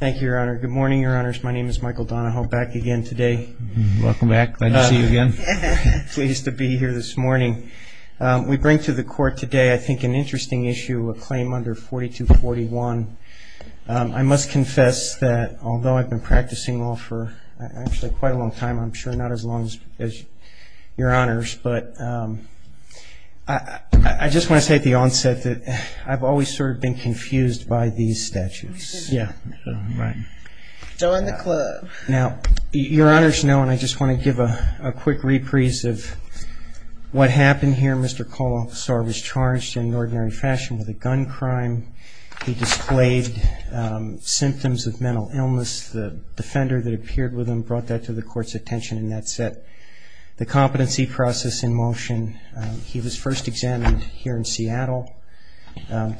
Thank you, your honor. Good morning, your honors. My name is Michael Donahoe. Back again today. Welcome back. Glad to see you again. Pleased to be here this morning. We bring to the court today, I think, an interesting issue, a claim under 4241. I must confess that although I've been practicing law for actually quite a long time, I'm sure not as long as your honors, but I just want to say at the onset that I've always sort of been confused by these statutes. Yeah, right. Now, your honors know, and I just want to give a quick reprise of what happened here. Mr. Kolesar was charged in ordinary fashion with a gun crime. He displayed symptoms of mental illness. The defender that appeared with him brought that to the court's attention, and that set the competency process in motion. He was first examined here in Seattle.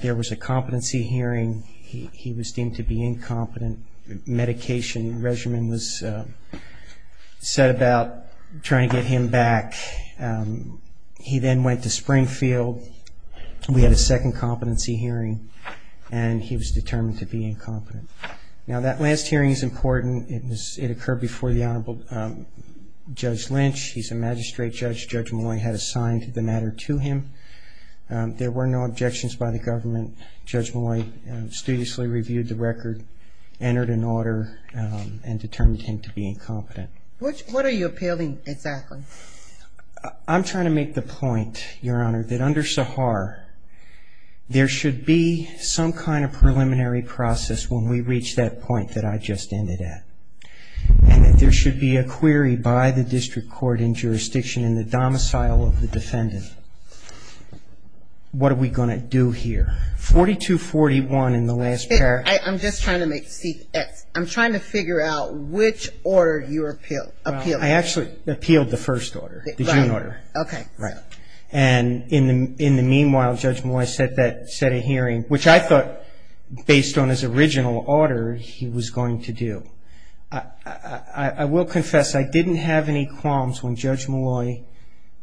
There was a competency hearing. He was deemed to be incompetent. Medication regimen was set about trying to get him back. He then went to Springfield. We had a second competency hearing, and he was determined to be incompetent. Now, that last hearing is important. It occurred before the Honorable Judge Lynch. He's a magistrate judge. Judge Molloy had assigned the matter to him. There were no objections by the government. Judge Molloy studiously reviewed the record, entered an order, and determined him to be incompetent. What are you appealing exactly? I'm trying to make the point, your honor, that under Sahar, there should be some kind of preliminary process when we reach that point that I just ended at, and that there should be a query by the district court in jurisdiction in the domicile of the defendant. What are we going to do here? 4241 in the last pair. I'm just trying to figure out which order you're appealing. I actually appealed the first order, the June order. Okay. In the meanwhile, Judge Molloy set a hearing, which I thought, based on his original order, he was going to do. I will confess I didn't have any qualms when Judge Molloy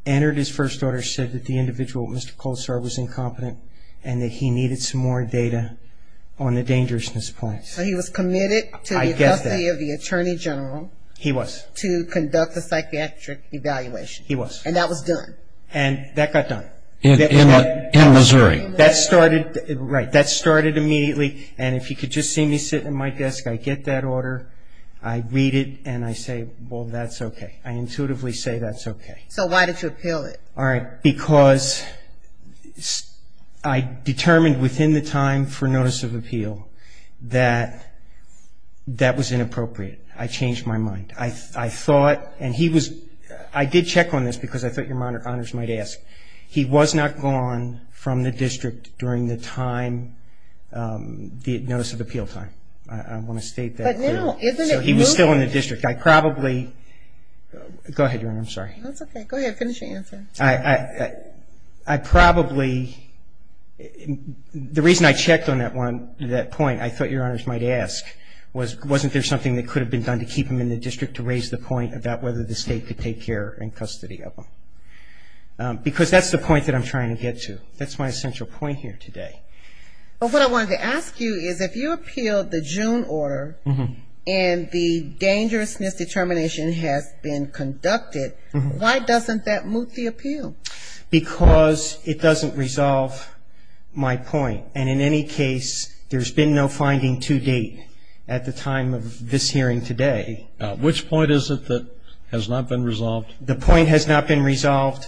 entered his first order, said that the individual, Mr. Colestar, was incompetent, and that he needed some more data on the dangerousness of the place. He was committed to the custody of the attorney general. He was. To conduct a psychiatric evaluation. He was. And that was done. And that got done. In Missouri. That started immediately, and if you could just see me sit at my desk, I get that order. I read it, and I say, well, that's okay. I intuitively say that's okay. So why did you appeal it? Because I determined within the time for notice of appeal that that was inappropriate. I changed my mind. I thought, and he was, I did check on this because I thought your honors might ask. He was not gone from the district during the time, the notice of appeal time. I want to state that. But now, isn't it moving? So he was still in the district. I probably, go ahead, Your Honor. I'm sorry. That's okay. Go ahead. Finish your answer. I probably, the reason I checked on that point, I thought your honors might ask, wasn't there something that could have been done to keep him in the district to raise the point about whether the state could take care and custody of him? Because that's the point that I'm trying to get to. That's my essential point here today. Well, what I wanted to ask you is if you appealed the June order and the dangerousness determination has been conducted, why doesn't that move the appeal? Because it doesn't resolve my point. And in any case, there's been no finding to date at the time of this hearing today. Which point is it that has not been resolved? The point has not been resolved.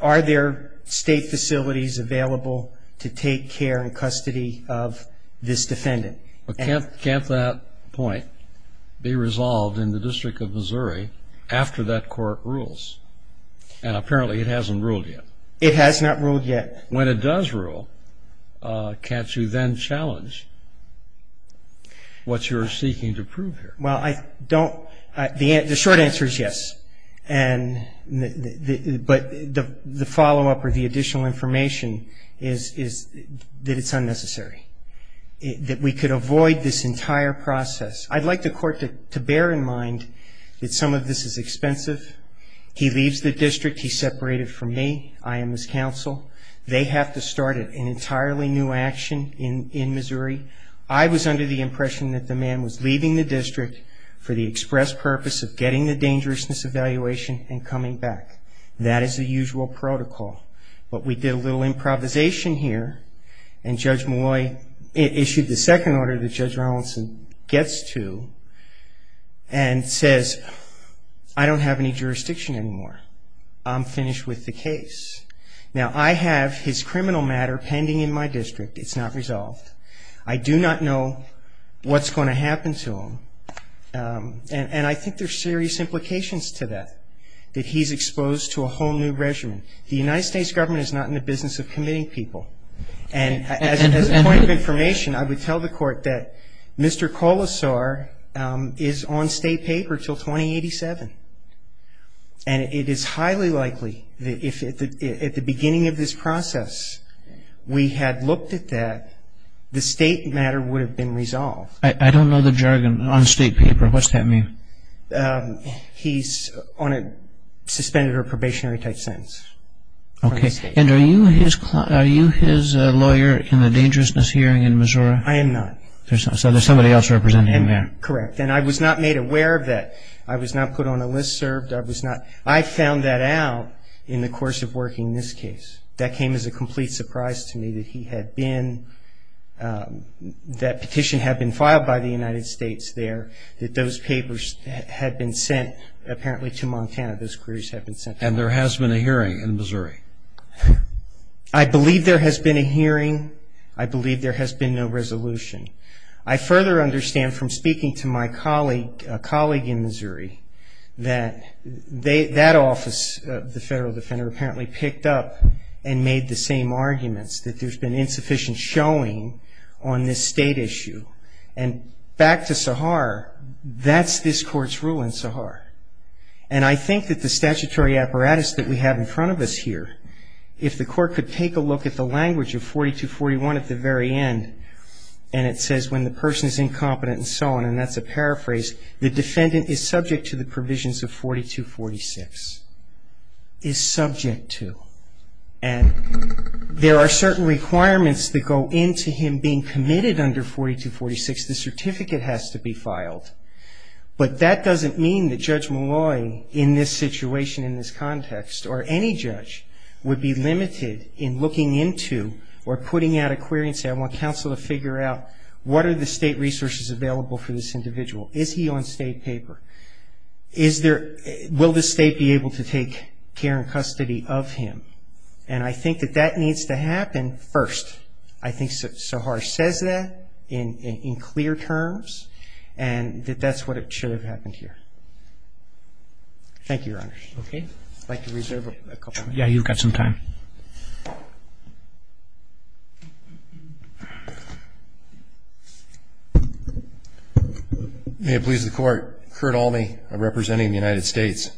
Are there state facilities available to take care and custody of this defendant? Can't that point be resolved in the District of Missouri after that court rules? And apparently it hasn't ruled yet. It has not ruled yet. When it does rule, can't you then challenge what you're seeking to prove here? Well, I don't, the short answer is yes. But the follow-up or the additional information is that it's unnecessary, that we could avoid this entire process. I'd like the court to bear in mind that some of this is expensive. He leaves the district. He's separated from me. I am his counsel. They have to start an entirely new action in Missouri. I was under the impression that the man was leaving the district for the express purpose of getting the dangerousness evaluation and coming back. That is the usual protocol. But we did a little improvisation here, and Judge Malloy issued the second order that Judge Robinson gets to and says, I don't have any jurisdiction anymore. I'm finished with the case. Now, I have his criminal matter pending in my district. It's not resolved. I do not know what's going to happen to him. And I think there's serious implications to that, that he's exposed to a whole new regimen. The United States government is not in the business of committing people. And as a point of information, I would tell the court that Mr. Colasaur is on state paper until 2087. And it is highly likely that if at the beginning of this process we had looked at that, the state matter would have been resolved. I don't know the jargon. On state paper, what's that mean? He's on a suspended or probationary type sentence. Okay. And are you his lawyer in the dangerousness hearing in Missouri? I am not. So there's somebody else representing him there. Correct. And I was not made aware of that. I was not put on a list served. I was not. I found that out in the course of working this case. That came as a complete surprise to me that he had been, that petition had been filed by the United States there, that those papers had been sent apparently to Montana, those queries had been sent. And there has been a hearing in Missouri. I believe there has been a hearing. I believe there has been no resolution. I further understand from speaking to my colleague, a colleague in Missouri, that that office, the federal defender, apparently picked up and made the same arguments, that there's been insufficient showing on this state issue. And back to Sahar, that's this Court's rule in Sahar. And I think that the statutory apparatus that we have in front of us here, if the Court could take a look at the language of 4241 at the very end and it says when the person is incompetent and so on, and that's a paraphrase, the defendant is subject to the provisions of 4246. Is subject to. And there are certain requirements that go into him being committed under 4246. The certificate has to be filed. But that doesn't mean that Judge Malloy in this situation, in this context, or any judge would be limited in looking into or putting out a query and say, I want counsel to figure out, what are the state resources available for this individual? Is he on state paper? Will the state be able to take care and custody of him? And I think that that needs to happen first. I think Sahar says that in clear terms and that that's what should have happened here. Thank you, Your Honor. Okay. I'd like to reserve a couple minutes. Yeah, you've got some time. May it please the Court. Kurt Alme, representing the United States.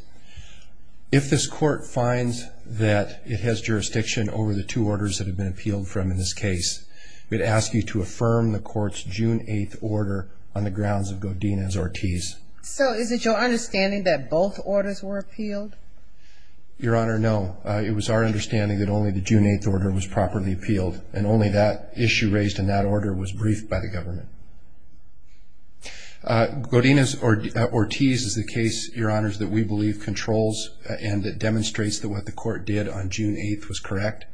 If this Court finds that it has jurisdiction over the two orders that have been appealed from in this case, we'd ask you to affirm the Court's June 8th order on the grounds of Godinez-Ortiz. So is it your understanding that both orders were appealed? Your Honor, no. It was our understanding that only the June 8th order was properly appealed and only that issue raised in that order was briefed by the government. Godinez-Ortiz is the case, Your Honors, that we believe controls and that demonstrates that what the Court did on June 8th was correct.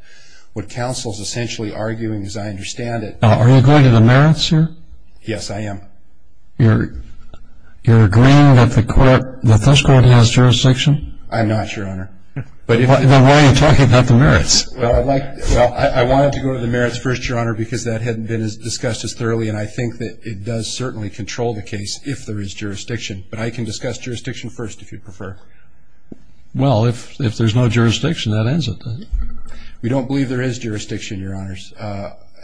What counsel is essentially arguing, as I understand it… Are you going to the merits here? Yes, I am. You're agreeing that this Court has jurisdiction? I'm not, Your Honor. Then why are you talking about the merits? Well, I wanted to go to the merits first, Your Honor, because that hadn't been discussed as thoroughly, and I think that it does certainly control the case if there is jurisdiction. But I can discuss jurisdiction first if you prefer. Well, if there's no jurisdiction, that ends it then. We don't believe there is jurisdiction, Your Honors.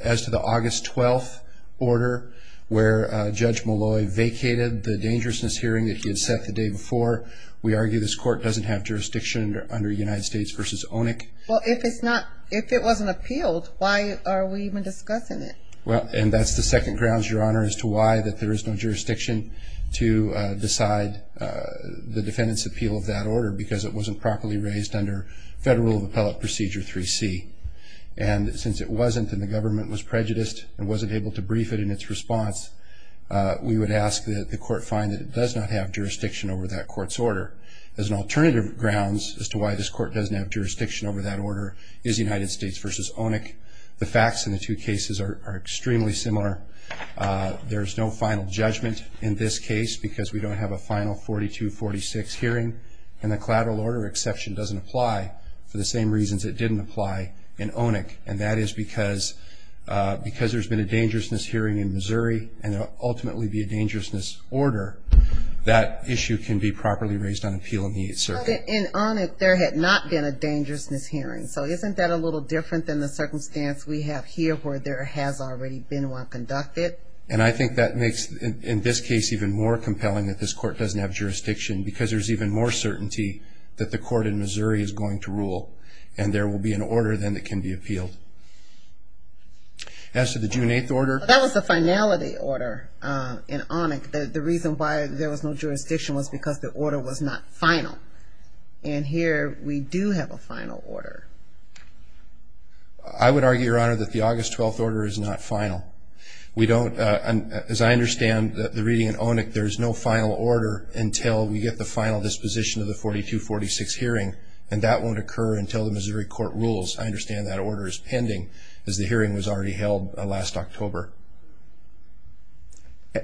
As to the August 12th order, where Judge Molloy vacated the dangerousness hearing that he had set the day before, we argue this Court doesn't have jurisdiction under United States v. ONIC. Well, if it wasn't appealed, why are we even discussing it? And that's the second grounds, Your Honor, as to why there is no jurisdiction to decide the defendant's appeal of that order because it wasn't properly raised under Federal Appellate Procedure 3C. And since it wasn't and the government was prejudiced and wasn't able to brief it in its response, we would ask that the Court find that it does not have jurisdiction over that Court's order. As an alternative grounds as to why this Court doesn't have jurisdiction over that order is United States v. ONIC. The facts in the two cases are extremely similar. There's no final judgment in this case because we don't have a final 4246 hearing. And the collateral order exception doesn't apply for the same reasons it didn't apply in ONIC, and that is because there's been a dangerousness hearing in Missouri and there will ultimately be a dangerousness order, that issue can be properly raised on appeal in the 8th Circuit. But in ONIC, there had not been a dangerousness hearing. So isn't that a little different than the circumstance we have here where there has already been one conducted? And I think that makes, in this case, even more compelling that this Court doesn't have jurisdiction because there's even more certainty that the Court in Missouri is going to rule and there will be an order then that can be appealed. As to the June 8th order. That was the finality order in ONIC. The reason why there was no jurisdiction was because the order was not final. And here we do have a final order. I would argue, Your Honor, that the August 12th order is not final. As I understand the reading in ONIC, there is no final order until we get the final disposition of the 4246 hearing, and that won't occur until the Missouri Court rules. I understand that order is pending, as the hearing was already held last October.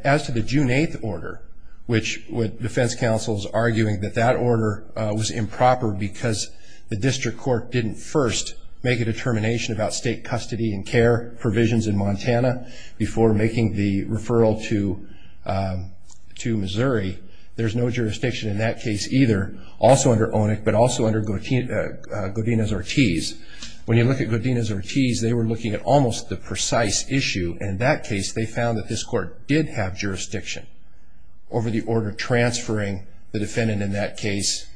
As to the June 8th order, which Defense Counsel is arguing that that order was improper because the District Court didn't first make a determination about state custody and care provisions in Montana before making the referral to Missouri, there's no jurisdiction in that case either, also under ONIC, but also under Godinez-Ortiz. When you look at Godinez-Ortiz, they were looking at almost the precise issue, and in that case they found that this Court did have jurisdiction over the order transferring the defendant in that case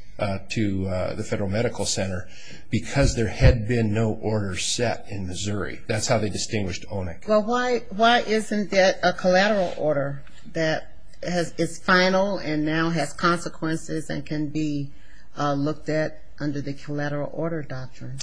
to the Federal Medical Center because there had been no order set in Missouri. That's how they distinguished ONIC. Well, why isn't it a collateral order that is final and now has consequences and can be looked at under the collateral order doctrine?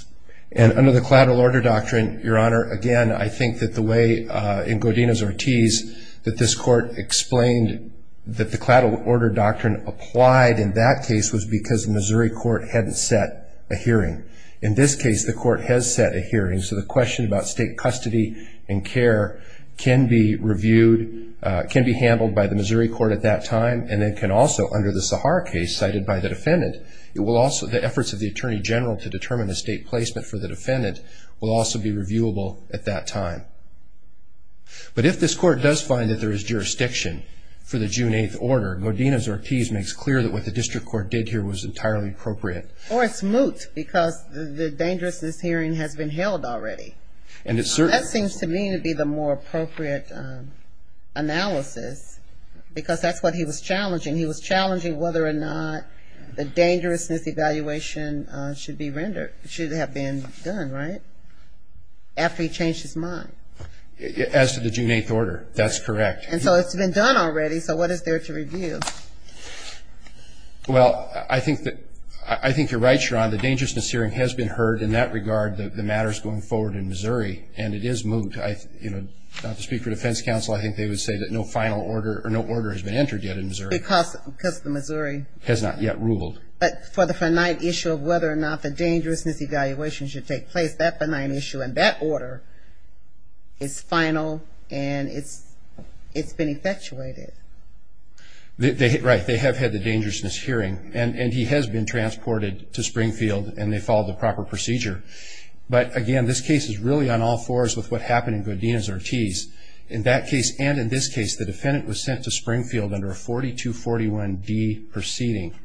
And under the collateral order doctrine, Your Honor, again, I think that the way in Godinez-Ortiz that this Court explained that the collateral order doctrine applied in that case was because the Missouri Court hadn't set a hearing. In this case, the Court has set a hearing, so the question about state custody and care can be reviewed, can be handled by the Missouri Court at that time, and it can also, under the Sahara case cited by the defendant, the efforts of the Attorney General to determine the state placement for the defendant will also be reviewable at that time. Your Honor, Godinez-Ortiz makes clear that what the district court did here was entirely appropriate. Or it's moot because the dangerousness hearing has been held already. That seems to me to be the more appropriate analysis because that's what he was challenging. He was challenging whether or not the dangerousness evaluation should be rendered, should have been done, right, after he changed his mind? As to the June 8th order, that's correct. And so it's been done already, so what is there to review? Well, I think you're right, Your Honor. The dangerousness hearing has been heard. In that regard, the matter is going forward in Missouri, and it is moot. Not to speak for defense counsel, I think they would say that no final order or no order has been entered yet in Missouri. Because the Missouri? Has not yet ruled. But for the finite issue of whether or not the dangerousness evaluation should take place, that order is final and it's been effectuated. Right, they have had the dangerousness hearing, and he has been transported to Springfield and they followed the proper procedure. But again, this case is really on all fours with what happened in Godinez-Ortiz. In that case and in this case, the defendant was sent to Springfield under a 4241D proceeding.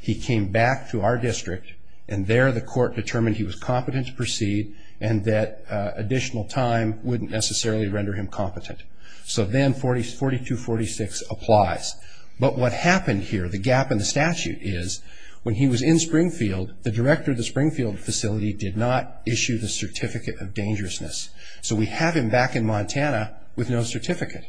He came back to our district, and there the court determined he was competent to proceed and that additional time wouldn't necessarily render him competent. So then 4246 applies. But what happened here, the gap in the statute, is when he was in Springfield, the director of the Springfield facility did not issue the certificate of dangerousness. So we have him back in Montana with no certificate.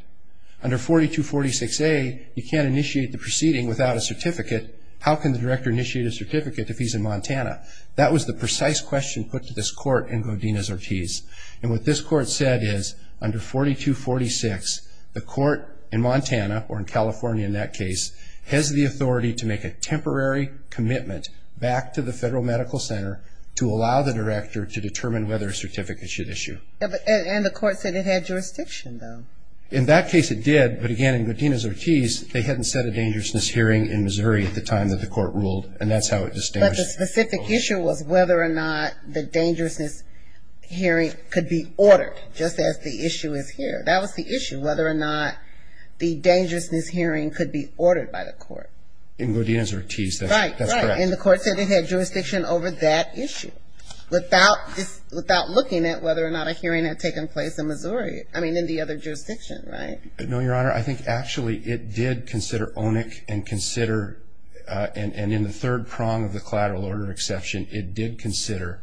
Under 4246A, you can't initiate the proceeding without a certificate. How can the director initiate a certificate if he's in Montana? That was the precise question put to this court in Godinez-Ortiz. And what this court said is, under 4246, the court in Montana, or in California in that case, has the authority to make a temporary commitment back to the federal medical center to allow the director to determine whether a certificate should issue. And the court said it had jurisdiction, though. In that case it did, but again, in Godinez-Ortiz, they hadn't set a dangerousness hearing in Missouri at the time that the court ruled, and that's how it was established. But the specific issue was whether or not the dangerousness hearing could be ordered, just as the issue is here. That was the issue, whether or not the dangerousness hearing could be ordered by the court. In Godinez-Ortiz, that's correct. Right, right. And the court said it had jurisdiction over that issue. Without looking at whether or not a hearing had taken place in Missouri, I mean in the other jurisdiction, right? No, Your Honor, I think actually it did consider ONIC and consider, and in the third prong of the collateral order exception, it did consider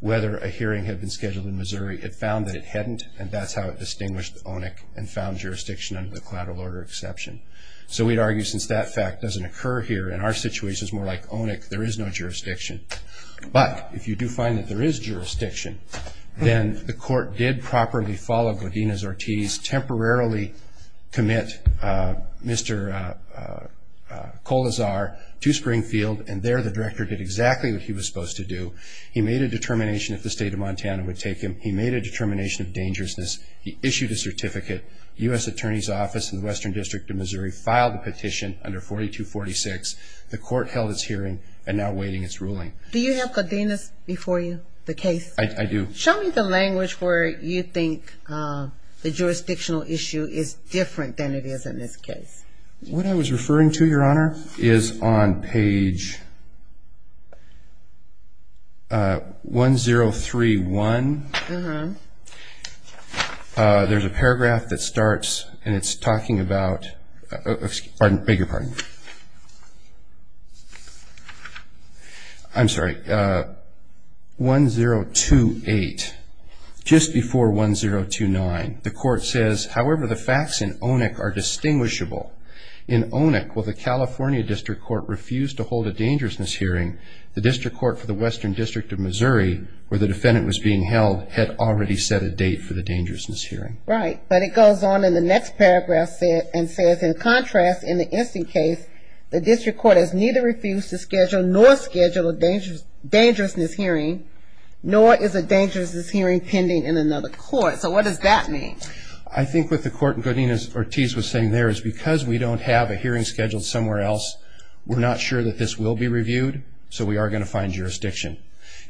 whether a hearing had been scheduled in Missouri. It found that it hadn't, and that's how it distinguished ONIC and found jurisdiction under the collateral order exception. So we'd argue since that fact doesn't occur here, in our situation it's more like ONIC, there is no jurisdiction. But if you do find that there is jurisdiction, then the court did properly follow Godinez-Ortiz, temporarily commit Mr. Colazar to Springfield, and there the director did exactly what he was supposed to do. He made a determination if the state of Montana would take him. He made a determination of dangerousness. He issued a certificate. The U.S. Attorney's Office in the Western District of Missouri filed the petition under 4246. The court held its hearing and now awaiting its ruling. Do you have Godinez before you, the case? I do. Show me the language where you think the jurisdictional issue is different than it is in this case. What I was referring to, Your Honor, is on page 1031. There's a paragraph that starts and it's talking about 1028, just before 1029. The court says, however, the facts in ONIC are distinguishable. In ONIC, while the California District Court refused to hold a dangerousness hearing, the District Court for the Western District of Missouri, where the defendant was being held, had already set a date for the dangerousness hearing. Right. But it goes on in the next paragraph and says, in contrast, in the instant case, the District Court has neither refused to schedule nor schedule a dangerousness hearing, nor is a dangerousness hearing pending in another court. So what does that mean? I think what the court in Godinez-Ortiz was saying there is because we don't have a hearing scheduled somewhere else, we're not sure that this will be reviewed, so we are going to find jurisdiction.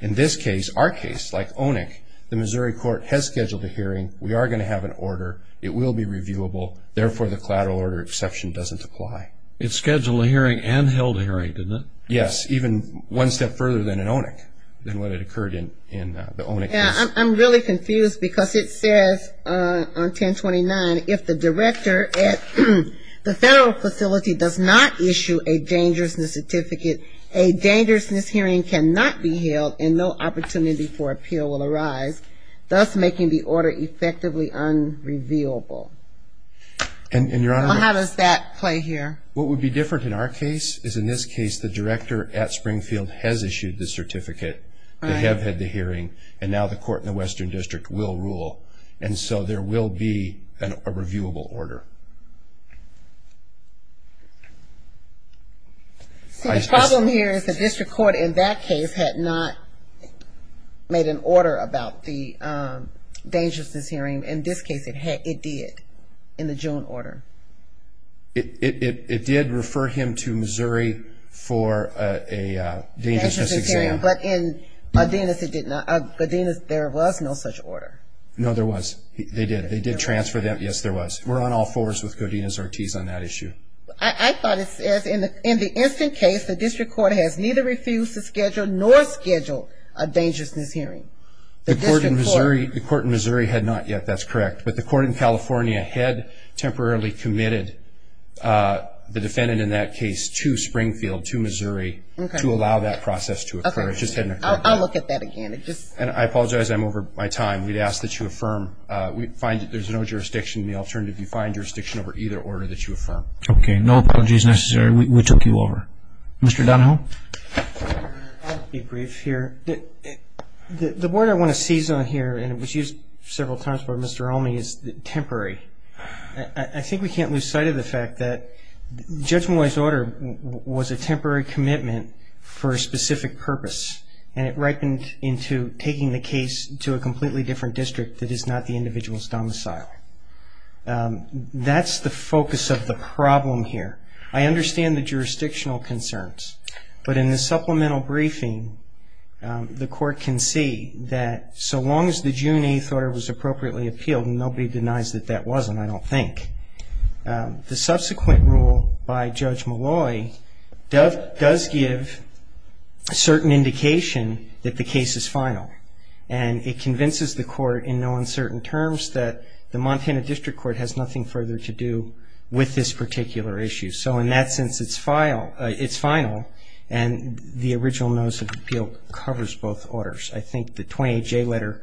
In this case, our case, like ONIC, the Missouri court has scheduled a hearing. We are going to have an order. It will be reviewable. Therefore, the collateral order exception doesn't apply. It scheduled a hearing and held a hearing, didn't it? Yes, even one step further than in ONIC, than what had occurred in the ONIC case. I'm really confused because it says on 1029, if the director at the federal facility does not issue a dangerousness certificate, a dangerousness hearing cannot be held and no opportunity for appeal will arise, thus making the order effectively unreviewable. And, Your Honor. How does that play here? What would be different in our case is in this case the director at Springfield has issued the certificate. They have had the hearing, and now the court in the Western District will rule. And so there will be a reviewable order. The problem here is the district court in that case had not made an order about the dangerousness hearing. In this case, it did, in the June order. It did refer him to Missouri for a dangerousness exam. But in Godinez, there was no such order. No, there was. They did. They did transfer them. Yes, there was. We're on all fours with Godinez-Ortiz on that issue. I thought it says in the instant case, the district court has neither refused to schedule nor scheduled a dangerousness hearing. The court in Missouri had not yet. That's correct. But the court in California had temporarily committed the defendant in that case to Springfield, to Missouri, to allow that process to occur. I'll look at that again. And I apologize. I'm over my time. We'd ask that you affirm. We find that there's no jurisdiction. The alternative, you find jurisdiction over either order that you affirm. Okay. No apologies necessary. We took you over. Mr. Donahoe? I'll be brief here. The word I want to seize on here, and it was used several times by Mr. Elmey, is temporary. I think we can't lose sight of the fact that judgmentalized order was a temporary commitment for a specific purpose, and it ripened into taking the case to a completely different district that is not the individual's domicile. That's the focus of the problem here. I understand the jurisdictional concerns, but in the supplemental briefing, the court can see that so long as the June 8th order was appropriately appealed, and nobody denies that that wasn't, I don't think, the subsequent rule by Judge Malloy does give a certain indication that the case is final, and it convinces the court in no uncertain terms that the Montana District Court has nothing further to do with this particular issue. So in that sense, it's final, and the original notice of appeal covers both orders. I think the 28J letter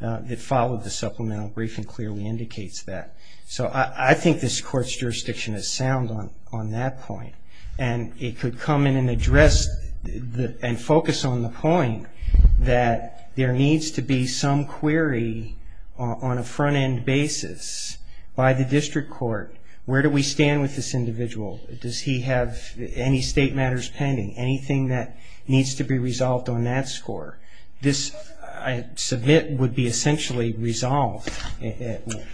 that followed the supplemental briefing clearly indicates that. So I think this Court's jurisdiction is sound on that point, and it could come in and address and focus on the point that there needs to be some query on a front-end basis by the District Court, where do we stand with this individual, does he have any state matters pending, anything that needs to be resolved on that score. This, I submit, would be essentially resolved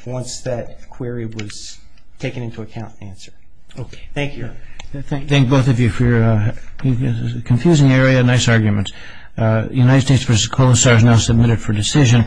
once that query was taken into account and answered. Thank you. Thank both of you for your confusing area and nice arguments. United States v. Colasar is now submitted for decision.